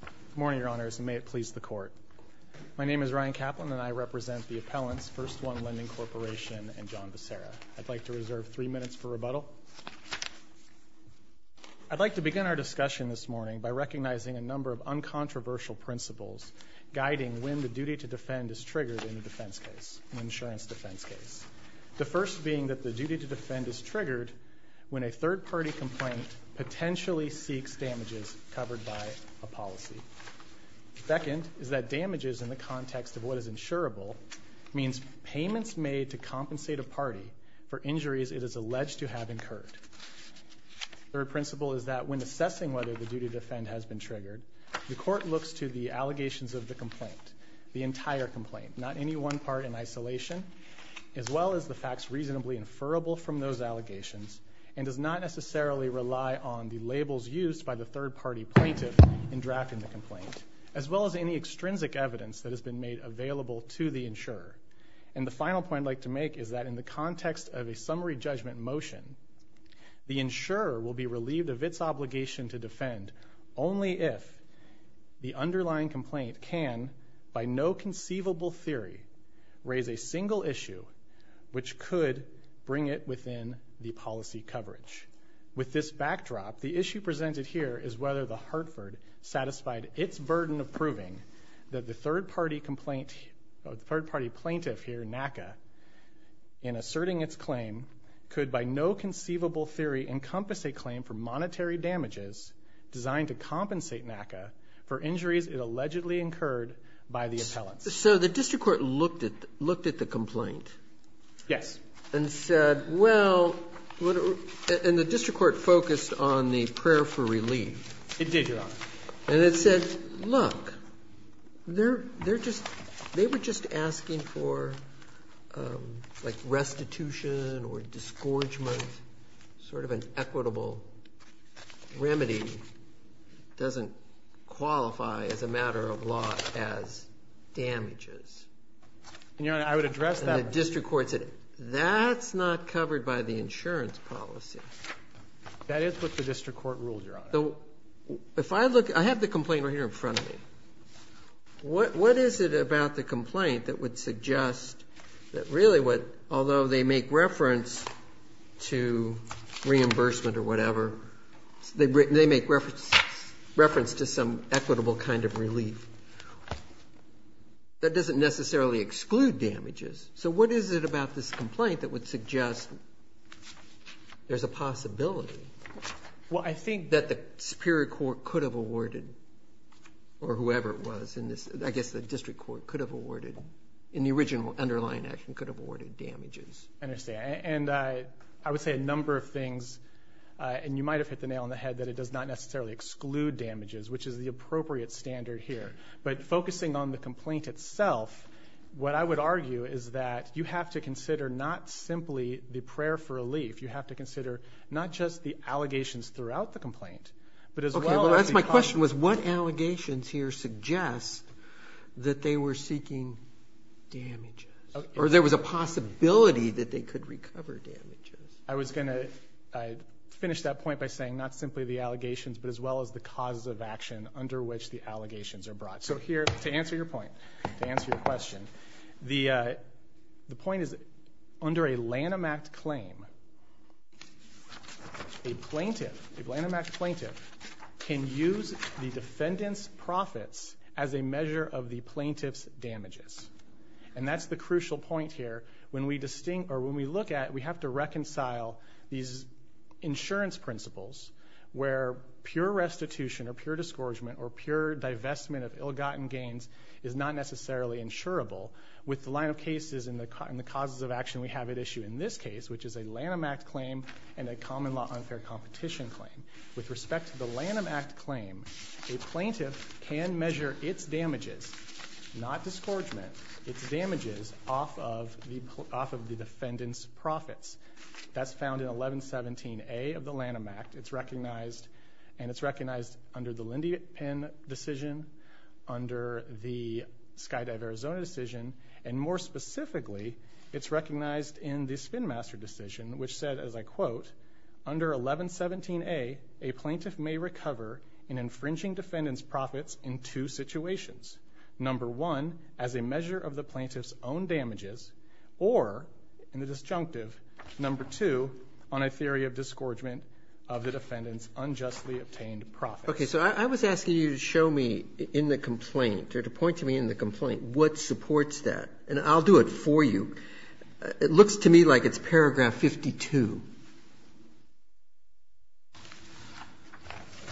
Good morning, Your Honors, and may it please the Court. My name is Ryan Kaplan, and I represent the appellants, First One Lending Corporation and John Becerra. I'd like to reserve three minutes for rebuttal. I'd like to begin our discussion this morning by recognizing a number of uncontroversial principles guiding when the duty to defend is triggered in a defense case, an insurance defense case. The first being that the duty to defend is triggered when a third-party complaint potentially seeks damages covered by a policy. The second is that damages in the context of what is insurable means payments made to compensate a party for injuries it is alleged to have incurred. The third principle is that when assessing whether the duty to defend has been triggered, the Court looks to the allegations of the complaint, the entire complaint, not any one part in isolation, as well as the facts reasonably inferable from those allegations, and does not necessarily rely on the labels used by the third-party plaintiff in drafting the complaint, as well as any extrinsic evidence that has been made available to the insurer. And the final point I'd like to make is that in the context of a summary judgment motion, the insurer will be relieved of its obligation to defend only if the underlying complaint can, by no conceivable theory, raise a single issue which could bring it within the policy coverage. With this backdrop, the issue presented here is whether the Hartford satisfied its burden of proving that the third-party plaintiff here, NACA, in asserting its claim, could by no conceivable theory encompass a claim for monetary damages designed to compensate NACA for injuries it allegedly incurred by the appellants. So the district court looked at the complaint. Yes. And said, well, and the district court focused on the prayer for relief. It did, Your Honor. And it said, look, they were just asking for, like, restitution or disgorgement, sort of an equitable remedy. It doesn't qualify as a matter of law as damages. Your Honor, I would address that. And the district court said, that's not covered by the insurance policy. That is what the district court ruled, Your Honor. If I look, I have the complaint right here in front of me. What is it about the complaint that would suggest that really what, although they make reference to reimbursement or whatever, they make reference to some equitable kind of relief, that doesn't necessarily exclude damages. So what is it about this complaint that would suggest there's a possibility? Well, I think that the superior court could have awarded, or whoever it was in this, I guess the district court could have awarded, in the original underlying action, could have awarded damages. I understand. And I would say a number of things, and you might have hit the nail on the head, that it does not necessarily exclude damages, which is the appropriate standard here. But focusing on the complaint itself, what I would argue is that you have to consider not simply the prayer for relief. You have to consider not just the allegations throughout the complaint, but as well as the cost. My question was, what allegations here suggest that they were seeking damages, or there was a possibility that they could recover damages? I was going to finish that point by saying not simply the allegations, but as well as the causes of action under which the allegations are brought. So here, to answer your point, to answer your question, the point is under a Lanham Act claim, a plaintiff, a Lanham Act plaintiff, can use the defendant's profits as a measure of the plaintiff's damages. And that's the crucial point here. When we look at it, we have to reconcile these insurance principles where pure restitution or pure discouragement or pure divestment of ill-gotten gains is not necessarily insurable. With the line of cases and the causes of action we have at issue in this case, which is a Lanham Act claim and a common law unfair competition claim. With respect to the Lanham Act claim, a plaintiff can measure its damages, not discouragement, its damages off of the defendant's profits. That's found in 1117A of the Lanham Act. It's recognized under the Lindypin decision, under the Skydive Arizona decision, and more specifically, it's recognized in the Spinmaster decision, which said, as I quote, under 1117A, a plaintiff may recover in infringing defendant's profits in two situations. Number one, as a measure of the plaintiff's own damages, or, in the disjunctive, number two, on a theory of discouragement of the defendant's unjustly obtained profits. Roberts, okay. So I was asking you to show me in the complaint or to point to me in the complaint what supports that, and I'll do it for you. It looks to me like it's paragraph 52.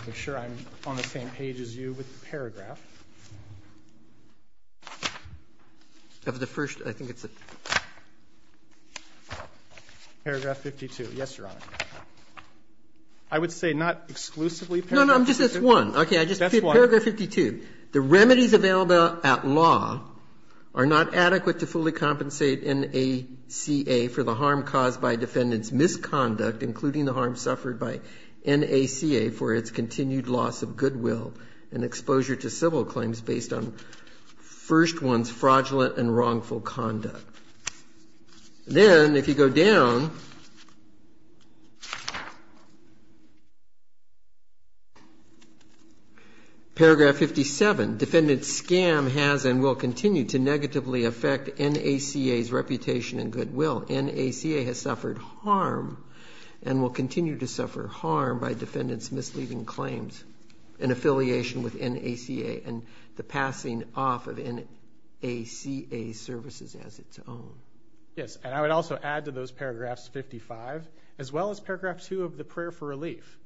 I'm sure I'm on the same page as you with the paragraph. Of the first, I think it's paragraph 52. Yes, Your Honor. I would say not exclusively paragraph 52. No, no, no, just this one. That's one. Paragraph 52. The remedies available at law are not adequate to fully compensate NACA for the harm caused by a defendant's misconduct, including the harm suffered by NACA for its continued loss of goodwill and exposure to civil claims based on first one's fraudulent and wrongful conduct. Then, if you go down, paragraph 57, defendant's scam has and will continue to negatively affect NACA's reputation and goodwill. NACA has suffered harm and will continue to suffer harm by defendant's misleading and affiliation with NACA and the passing off of NACA services as its own. Yes, and I would also add to those paragraphs 55, as well as paragraph 2 of the prayer for relief.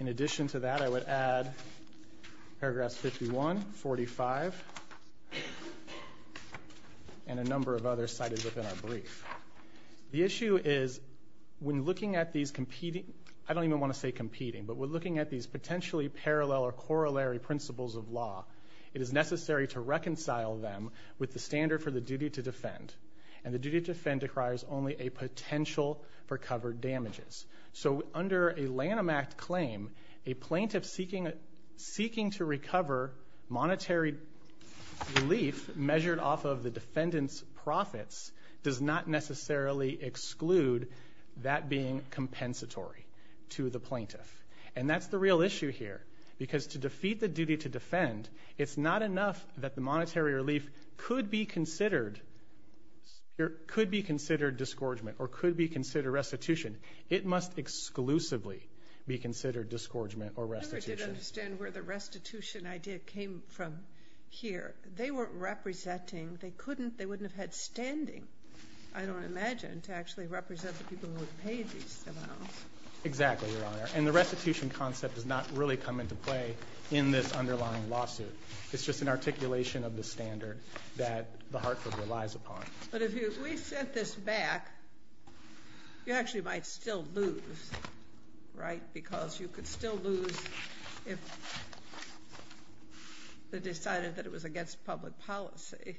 In addition to that, I would add paragraphs 51, 45, and a number of others cited within our brief. The issue is when looking at these competing, I don't even want to say competing, but when looking at these potentially parallel or corollary principles of law, it is necessary to reconcile them with the standard for the duty to defend, and the duty to defend requires only a potential for covered damages. So under a Lanham Act claim, a plaintiff seeking to recover monetary relief measured off of the defendant's profits does not necessarily exclude that being compensatory to the plaintiff. And that's the real issue here, because to defeat the duty to defend, it's not enough that the monetary relief could be considered disgorgement or could be considered restitution. It must exclusively be considered disgorgement or restitution. I never did understand where the restitution idea came from here. They weren't representing, they couldn't, they wouldn't have had standing, I don't imagine, to actually represent the people who would pay these amounts. Exactly, Your Honor. And the restitution concept does not really come into play in this underlying lawsuit. It's just an articulation of the standard that the Hartford relies upon. But if we set this back, you actually might still lose, right, because you could still lose if they decided that it was against public policy.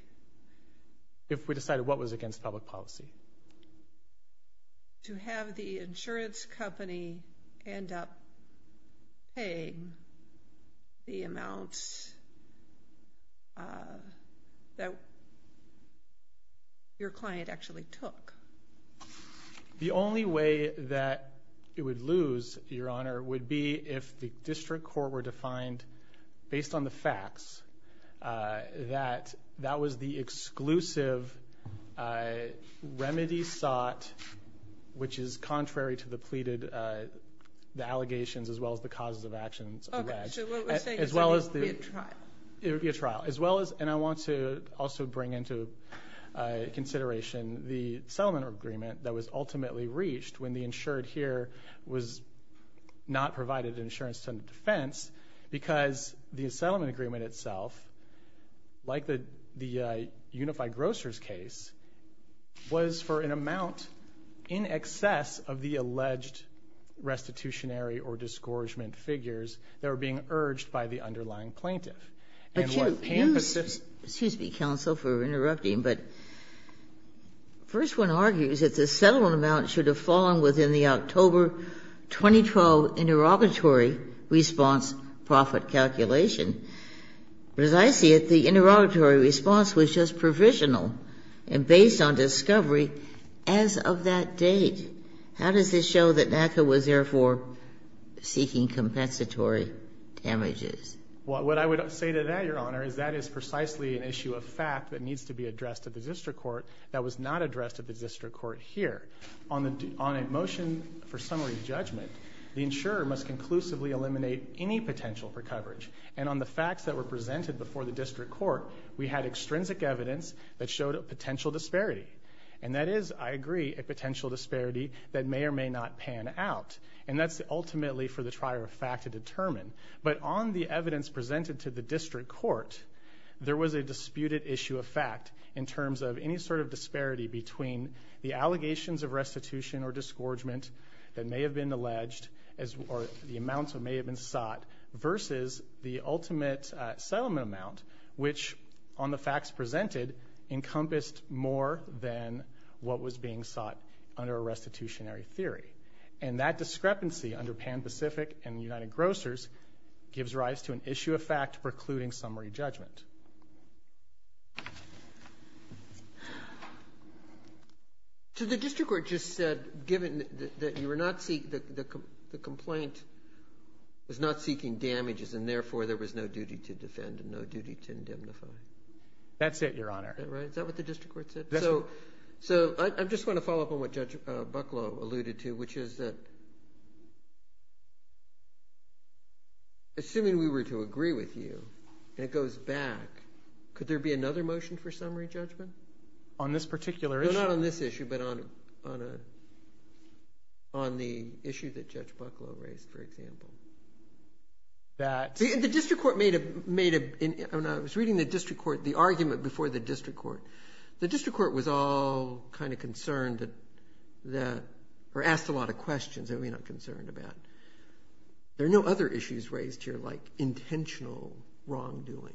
If we decided what was against public policy? To have the insurance company end up paying the amounts that your client actually took. The only way that it would lose, Your Honor, would be if the district court were to find, based on the facts, that that was the exclusive remedy sought, which is contrary to the pleaded allegations as well as the causes of actions alleged. Okay, so what you're saying is it would be a trial. It would be a trial. As well as, and I want to also bring into consideration the settlement agreement that was ultimately reached when the insured here was not provided an insurance defense because the settlement agreement itself, like the Unified Grocers case, was for an amount in excess of the alleged restitutionary or disgorgement figures that were being urged by the underlying plaintiff. But you, excuse me, counsel, for interrupting, but the first one argues that the settlement amount should have fallen within the October 2012 interrogatory response profit calculation. But as I see it, the interrogatory response was just provisional and based on discovery as of that date. How does this show that NACA was therefore seeking compensatory damages? What I would say to that, Your Honor, is that is precisely an issue of fact that needs to be addressed at the district court that was not addressed at the district court here. On a motion for summary judgment, the insurer must conclusively eliminate any potential for coverage. And on the facts that were presented before the district court, we had extrinsic evidence that showed a potential disparity. And that is, I agree, a potential disparity that may or may not pan out. And that's ultimately for the trier of fact to determine. But on the evidence presented to the district court, there was a disputed issue of fact in terms of any sort of disparity between the allegations of restitution or disgorgement that may have been alleged or the amounts that may have been sought versus the ultimate settlement amount, which on the facts presented encompassed more than what was being sought under a restitutionary theory. And that discrepancy under Pan Pacific and United Grocers gives rise to an issue of fact precluding summary judgment. So the district court just said, given that you were not seeking the complaint, was not seeking damages, and therefore there was no duty to defend and no duty to indemnify. That's it, Your Honor. Is that right? Is that what the district court said? So I just want to follow up on what Judge Bucklow alluded to, which is that assuming we were to agree with you and it goes back, could there be another motion for summary judgment? On this particular issue? No, not on this issue, but on the issue that Judge Bucklow raised, for example. The district court made a – I was reading the district court, the argument before the district court. The district court was all kind of concerned that – or asked a lot of questions that we're not concerned about. There are no other issues raised here like intentional wrongdoing?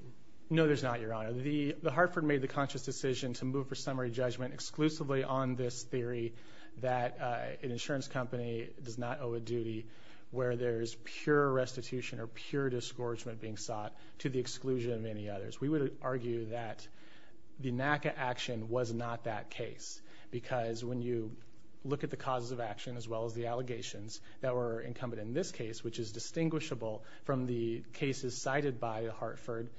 No, there's not, Your Honor. The Hartford made the conscious decision to move for summary judgment exclusively on this theory that an insurance company does not owe a duty where there's pure restitution or pure disgorgement being sought to the exclusion of any others. We would argue that the NACA action was not that case because when you look at the causes of action as well as the allegations that were incumbent in this case, which is distinguishable from the cases cited by Hartford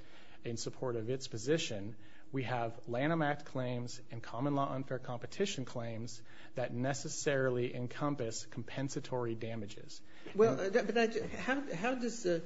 in support of its position, we have Lanham Act claims and common law unfair competition claims that necessarily encompass compensatory damages. Well, how does – I'm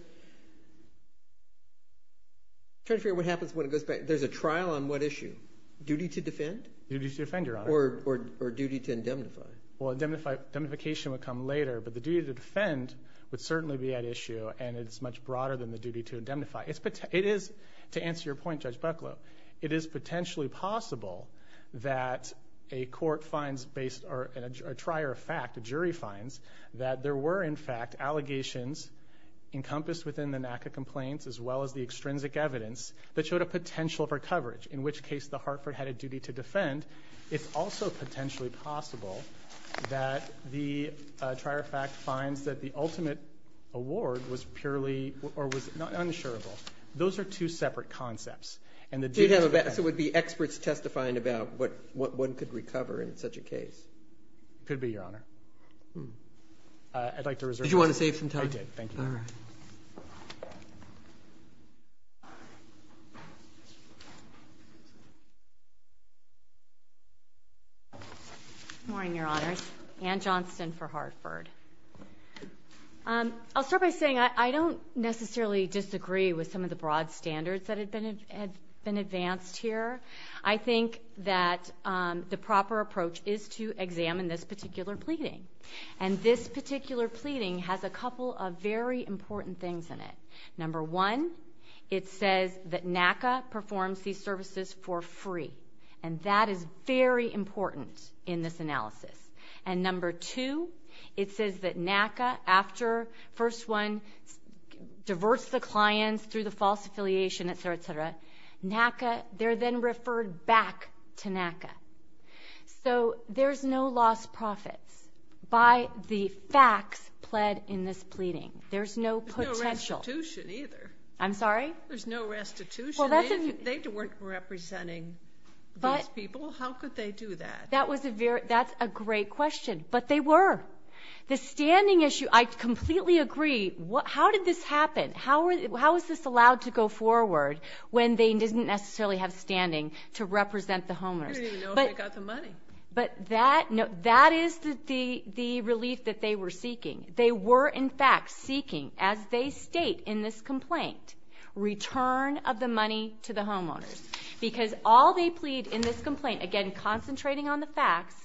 trying to figure out what happens when it goes back. There's a trial on what issue? Duty to defend? Duty to defend, Your Honor. Or duty to indemnify? Well, indemnification would come later, but the duty to defend would certainly be at issue and it's much broader than the duty to indemnify. It is – to answer your point, Judge Bucklow, it is potentially possible that a court finds based – a trier of fact, a jury finds that there were, in fact, allegations encompassed within the NACA complaints as well as the extrinsic evidence that showed a potential for coverage, in which case the Hartford had a duty to defend. It's also potentially possible that the trier of fact finds that the ultimate award was purely – or was unassurable. Those are two separate concepts. And the duty to defend – So you'd have – so it would be experts testifying about what one could recover in such a case. Could be, Your Honor. I'd like to reserve the floor. Did you want to save some time? I did. Thank you. All right. Good morning, Your Honors. Anne Johnston for Hartford. I'll start by saying I don't necessarily disagree with some of the broad standards that have been advanced here. I think that the proper approach is to examine this particular pleading. And this particular pleading has a couple of very important things in it. Number one, it says that NACA performs these services for free. And that is very important in this analysis. And number two, it says that NACA, after first one, diverts the clients through the false affiliation, et cetera, et cetera, they're then referred back to NACA. So there's no lost profits by the facts pled in this pleading. There's no potential. There's no restitution either. I'm sorry? There's no restitution. They weren't representing these people. How could they do that? That's a great question. But they were. The standing issue – I completely agree. How did this happen? How is this allowed to go forward when they didn't necessarily have standing to represent the homeowners? They didn't even know if they got the money. But that is the relief that they were seeking. They were, in fact, seeking, as they state in this complaint, return of the money to the homeowners. Because all they plead in this complaint, again, concentrating on the facts,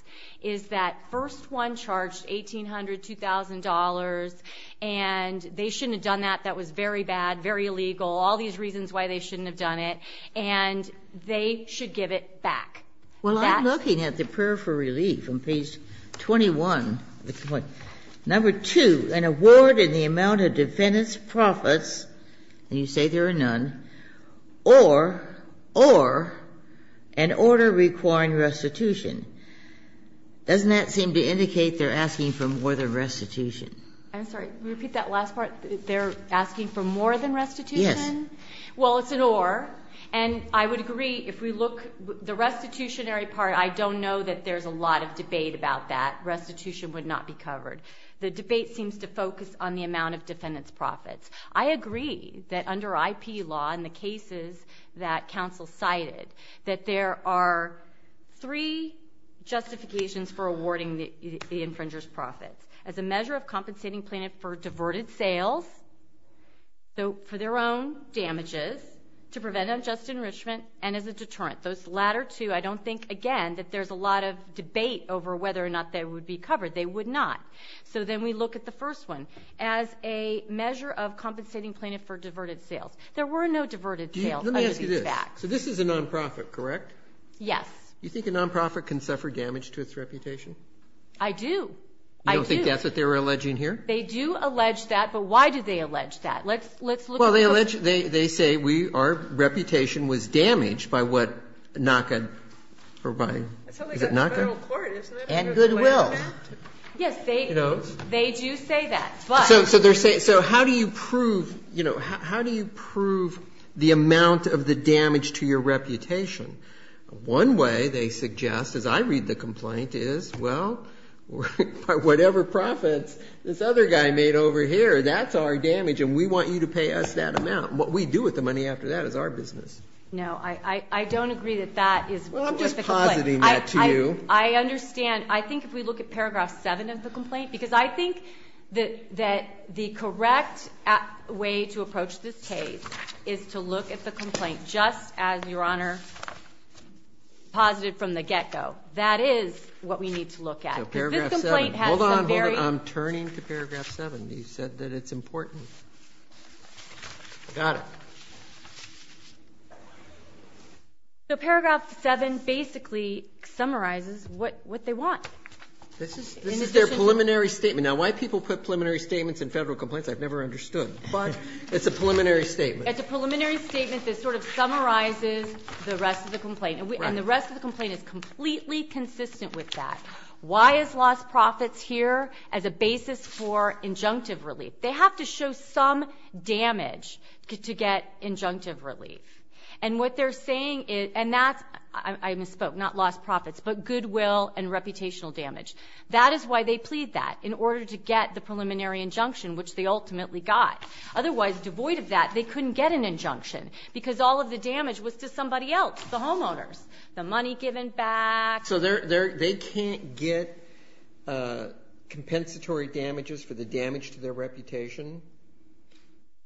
is that first one charged $1,800, $2,000, and they shouldn't have done that. That was very bad, very illegal. All these reasons why they shouldn't have done it. And they should give it back. Well, I'm looking at the prayer for relief in page 21 of the complaint. Number two, an award in the amount of defendant's profits, and you say there are none, or, or an order requiring restitution. Doesn't that seem to indicate they're asking for more than restitution? I'm sorry, can you repeat that last part? They're asking for more than restitution? Yes. Well, it's an or. And I would agree, if we look, the restitutionary part, I don't know that there's a lot of debate about that. Restitution would not be covered. The debate seems to focus on the amount of defendant's profits. I agree that under IP law, in the cases that counsel cited, that there are three justifications for awarding the infringer's profits. As a measure of compensating plaintiff for diverted sales, for their own damages, to prevent unjust enrichment, and as a deterrent. Those latter two, I don't think, again, that there's a lot of debate over whether or not they would be covered. They would not. So then we look at the first one. As a measure of compensating plaintiff for diverted sales. There were no diverted sales under these facts. Let me ask you this. So this is a non-profit, correct? Yes. You think a non-profit can suffer damage to its reputation? I do. I do. You don't think that's what they're alleging here? They do allege that. But why do they allege that? Let's look at the question. Well, they say our reputation was damaged by what NACA provided. It's something that's federal court, isn't it? And goodwill. Yes, they do say that. So they're saying, so how do you prove, you know, how do you prove the amount of the damage to your reputation? One way, they suggest, as I read the complaint, is, well, whatever profits this other guy made over here, that's our damage, and we want you to pay us that amount. What we do with the money after that is our business. No, I don't agree that that is worth the complaint. Well, I'm just positing that to you. I understand. And I think if we look at Paragraph 7 of the complaint, because I think that the correct way to approach this case is to look at the complaint just as Your Honor posited from the get-go. That is what we need to look at. So Paragraph 7. Hold on, hold on. I'm turning to Paragraph 7. You said that it's important. Got it. So Paragraph 7 basically summarizes what they want. This is their preliminary statement. Now, why people put preliminary statements in federal complaints, I've never understood. But it's a preliminary statement. It's a preliminary statement that sort of summarizes the rest of the complaint. And the rest of the complaint is completely consistent with that. Why is lost profits here as a basis for injunctive relief? They have to show some damage to get injunctive relief. And what they're saying is, and that's, I misspoke, not lost profits, but goodwill and reputational damage. That is why they plead that, in order to get the preliminary injunction, which they ultimately got. Otherwise, devoid of that, they couldn't get an injunction, because all of the damage was to somebody else, the homeowners. The money given back. So they can't get compensatory damages for the damage to their reputation,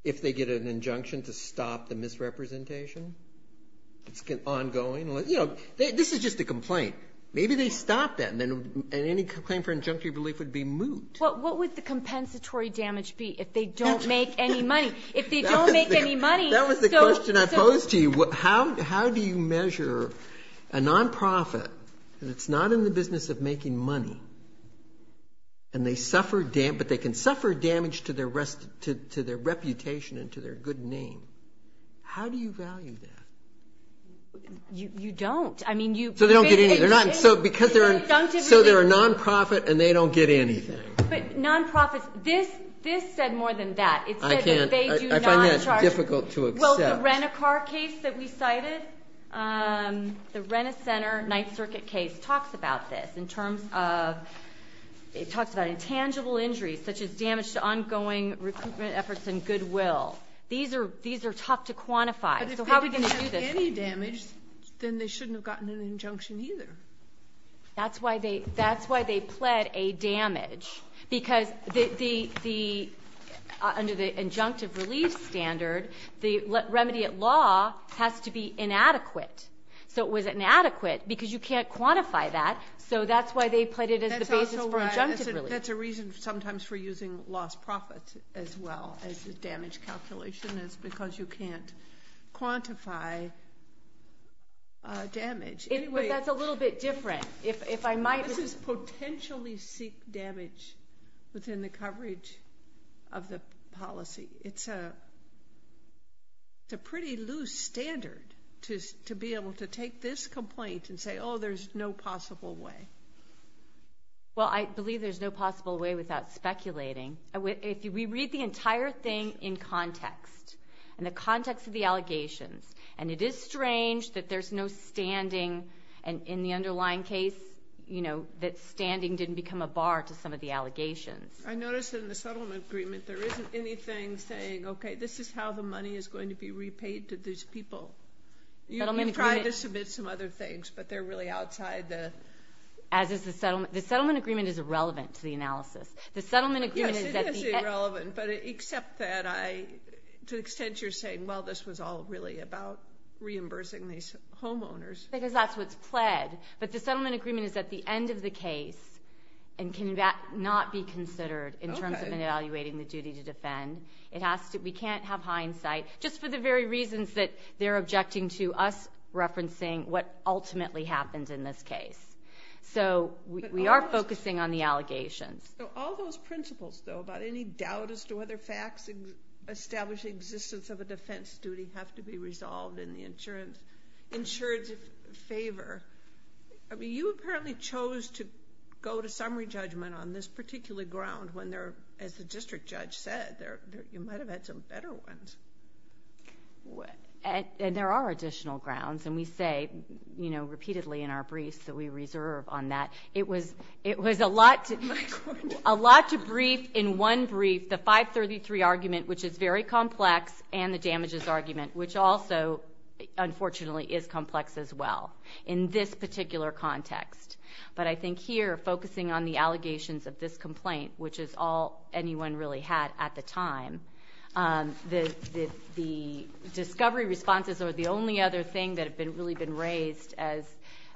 if they get an injunction to stop the misrepresentation. It's ongoing. You know, this is just a complaint. Maybe they stop that, and any claim for injunctive relief would be moot. What would the compensatory damage be if they don't make any money? If they don't make any money. That was the question I posed to you. How do you measure a nonprofit that's not in the business of making money, but they can suffer damage to their reputation and to their good name. How do you value that? You don't. So they don't get anything. So they're a nonprofit, and they don't get anything. But nonprofits, this said more than that. I find that difficult to accept. So the Rent-A-Car case that we cited, the Rent-A-Center Ninth Circuit case, talks about this in terms of tangible injuries, such as damage to ongoing recruitment efforts and goodwill. These are tough to quantify. So how are we going to do this? But if they didn't do any damage, then they shouldn't have gotten an injunction either. That's why they pled a damage. Because under the injunctive relief standard, the remedy at law has to be inadequate. So it was inadequate because you can't quantify that. So that's why they pled it as the basis for injunctive relief. That's a reason sometimes for using lost profits as well as the damage calculation is because you can't quantify damage. That's a little bit different. This is potentially seek damage within the coverage of the policy. It's a pretty loose standard to be able to take this complaint and say, oh, there's no possible way. Well, I believe there's no possible way without speculating. We read the entire thing in context, in the context of the allegations. And it is strange that there's no standing in the underlying case, that standing didn't become a bar to some of the allegations. I noticed in the settlement agreement there isn't anything saying, okay, this is how the money is going to be repaid to these people. You can try to submit some other things, but they're really outside the – As is the settlement. The settlement agreement is irrelevant to the analysis. Yes, it is irrelevant, but except that to the extent you're saying, well, this was all really about reimbursing these homeowners. Because that's what's pled. But the settlement agreement is at the end of the case and cannot be considered in terms of evaluating the duty to defend. We can't have hindsight, just for the very reasons that they're objecting to us referencing what ultimately happens in this case. So we are focusing on the allegations. All those principles, though, about any doubt as to whether facts establish the existence of a defense duty have to be resolved in the insurance favor. You apparently chose to go to summary judgment on this particular ground when, as the district judge said, you might have had some better ones. And there are additional grounds, and we say repeatedly in our briefs that we reserve on that. It was a lot to brief in one brief the 533 argument, which is very complex, and the damages argument, which also, unfortunately, is complex as well in this particular context. But I think here, focusing on the allegations of this complaint, which is all anyone really had at the time, the discovery responses are the only other thing that have really been raised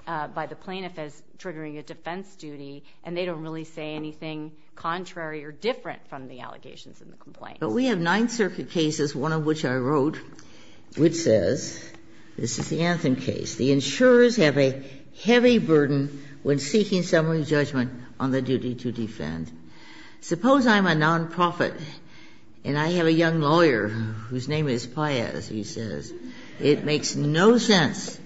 by the plaintiff as triggering a defense duty, and they don't really say anything contrary or different from the allegations in the complaint. But we have Ninth Circuit cases, one of which I wrote, which says, this is the Anthem case, the insurers have a heavy burden when seeking summary judgment on the duty to defend. Suppose I'm a nonprofit and I have a young lawyer whose name is Paez, he says. It makes no sense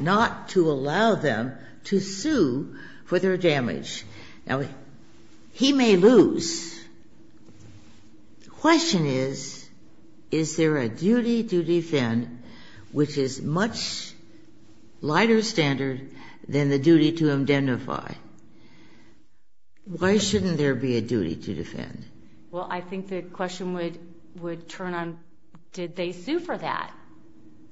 not to allow them to sue for their damage. Now, he may lose. The question is, is there a duty to defend which is much lighter standard than the duty to identify? Well, I think the question would turn on, did they sue for that?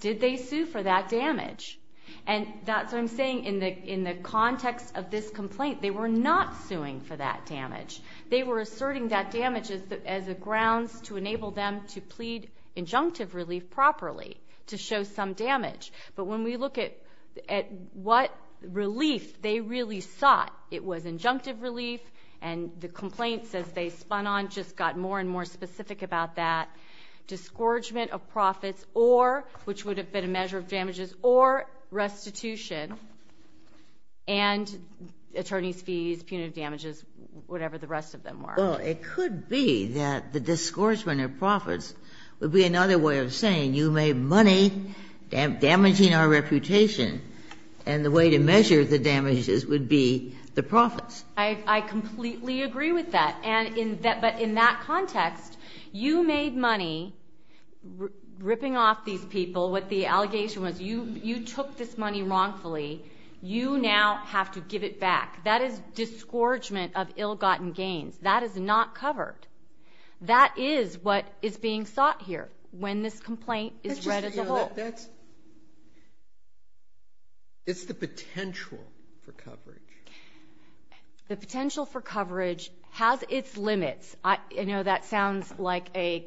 Did they sue for that damage? And that's what I'm saying. In the context of this complaint, they were not suing for that damage. They were asserting that damage as a grounds to enable them to plead injunctive relief properly to show some damage. But when we look at what relief they really sought, it was injunctive relief, and the complaints, as they spun on, just got more and more specific about that. Discouragement of profits or, which would have been a measure of damages, or restitution and attorney's fees, punitive damages, whatever the rest of them were. Well, it could be that the discouragement of profits would be another way of saying you made money damaging our reputation, and the way to measure the damages would be the profits. I completely agree with that. But in that context, you made money ripping off these people. What the allegation was, you took this money wrongfully. You now have to give it back. That is discouragement of ill-gotten gains. That is not covered. That is what is being sought here when this complaint is read as a whole. It's the potential for coverage. The potential for coverage has its limits. I know that sounds like a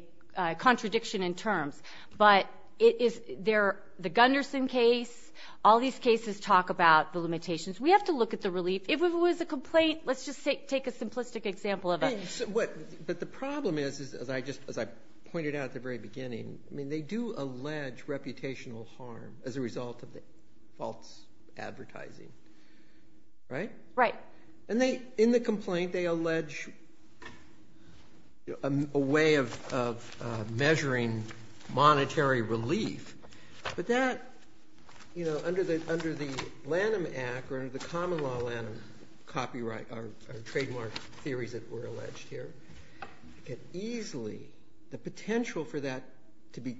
contradiction in terms. But the Gunderson case, all these cases talk about the limitations. We have to look at the relief. If it was a complaint, let's just take a simplistic example of it. But the problem is, as I pointed out at the very beginning, they do allege reputational harm as a result of the false advertising. Right? Right. And in the complaint, they allege a way of measuring monetary relief. But that, you know, under the Lanham Act or the common law Lanham copyright or trademark theories that were alleged here, easily the potential for that to be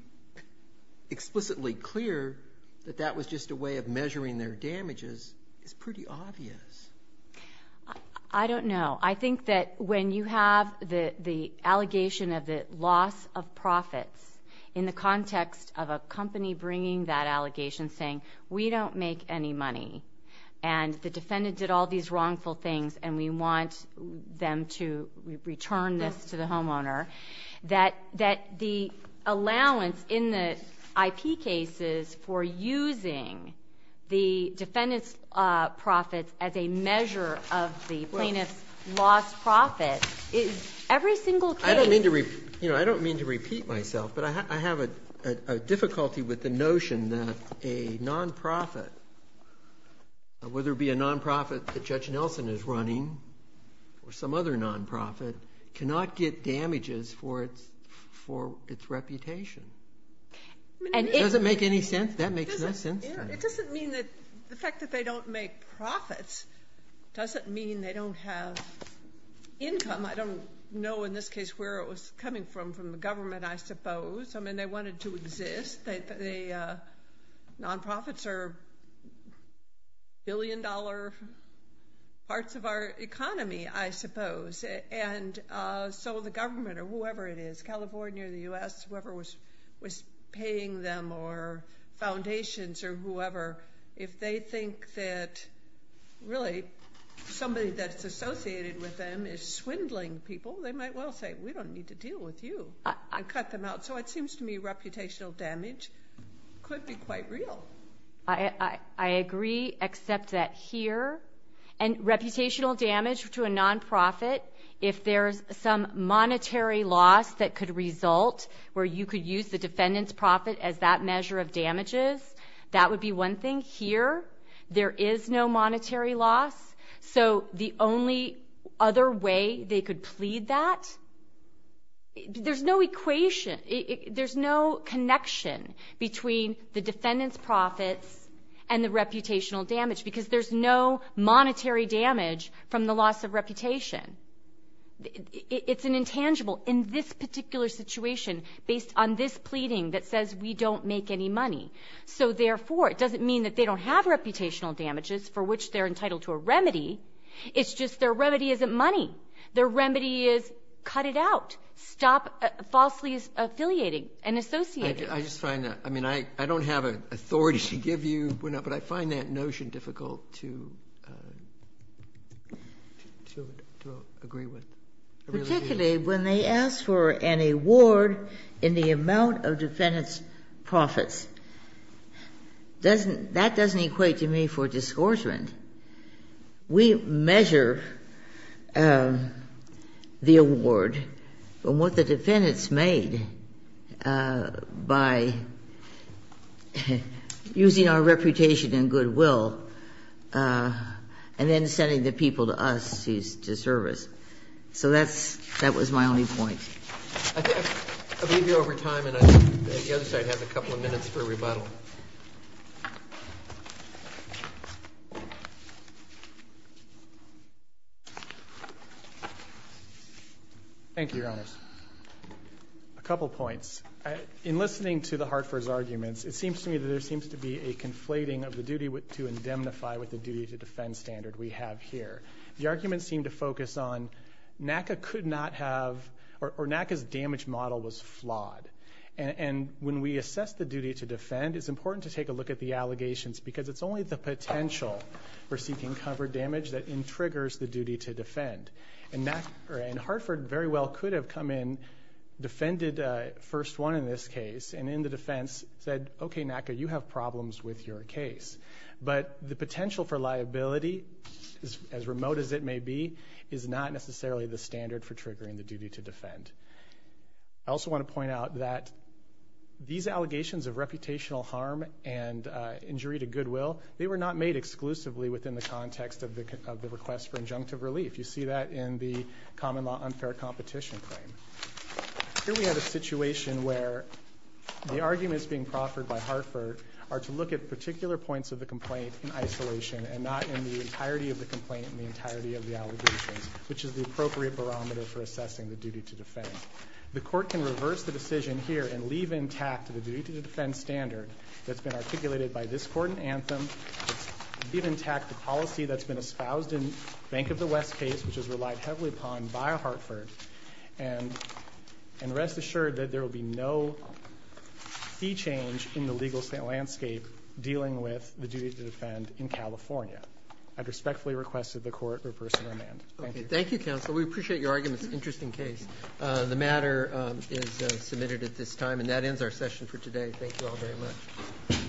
explicitly clear that that was just a way of measuring their damages is pretty obvious. I don't know. I think that when you have the allegation of the loss of profits in the context of a company bringing that allegation saying, we don't make any money and the defendant did all these wrongful things and we want them to return this to the homeowner, that the allowance in the IP cases for using the defendant's profits as a measure of the plaintiff's lost profits, every single case. I don't mean to repeat myself, but I have a difficulty with the notion that a nonprofit, whether it be a nonprofit that Judge Nelson is running or some other nonprofit, cannot get damages for its reputation. Does it make any sense? That makes no sense to me. It doesn't mean that the fact that they don't make profits doesn't mean they don't have income. I don't know in this case where it was coming from, from the government, I suppose. I mean, they wanted to exist. The nonprofits are billion-dollar parts of our economy, I suppose. And so the government or whoever it is, California or the U.S., whoever was paying them or foundations or whoever, if they think that really somebody that's associated with them is swindling people, they might well say, we don't need to deal with you and cut them out. So it seems to me reputational damage could be quite real. I agree, except that here. And reputational damage to a nonprofit, if there's some monetary loss that could result where you could use the defendant's profit as that measure of damages, that would be one thing. Here, there is no monetary loss. So the only other way they could plead that, there's no equation. There's no connection between the defendant's profits and the reputational damage because there's no monetary damage from the loss of reputation. It's an intangible. In this particular situation, based on this pleading that says we don't make any money, so therefore it doesn't mean that they don't have reputational damages for which they're entitled to a remedy. It's just their remedy isn't money. Their remedy is cut it out. Stop falsely affiliating and associating. Breyer, I just find that. I mean, I don't have authority to give you, but I find that notion difficult to agree with. I really do. Ginsburg, particularly when they ask for an award in the amount of defendant's profits, that doesn't equate to me for disgorgement. We measure the award and what the defendant's made by using our reputation and goodwill and then sending the people to us to service. So that's my only point. I'll leave you over time, and I think the other side has a couple of minutes for rebuttal. Thank you. Thank you, Your Honors. A couple points. In listening to the Hartford's arguments, it seems to me that there seems to be a conflating of the duty to indemnify with the duty to defend standard we have here. The arguments seem to focus on NACA could not have, or NACA's damage model was flawed. And when we assess the duty to defend, it's important to take a look at the allegations because it's only the potential for seeking cover damage that triggers the duty to defend. And Hartford very well could have come in, defended first one in this case, and in the defense said, okay, NACA, you have problems with your case. But the potential for liability, as remote as it may be, is not necessarily the standard for triggering the duty to defend. I also want to point out that these allegations of reputational harm and injury to goodwill, they were not made exclusively within the context of the request for injunctive relief. You see that in the common law unfair competition claim. Here we have a situation where the arguments being proffered by Hartford are to look at particular points of the complaint in isolation and not in the entirety of the complaint and the entirety of the allegations, which is the appropriate barometer for assessing the duty to defend. The court can reverse the decision here and leave intact the duty to defend standard that's been articulated by this court in Anthem, leave intact the policy that's been espoused in Bank of the West case, which is relied heavily upon by Hartford, and rest assured that there will be no fee change in the legal landscape dealing with the duty to defend in California. I'd respectfully request that the court reverse the amendment. Okay, thank you, counsel. We appreciate your arguments. Interesting case. The matter is submitted at this time, and that ends our session for today. Thank you all very much.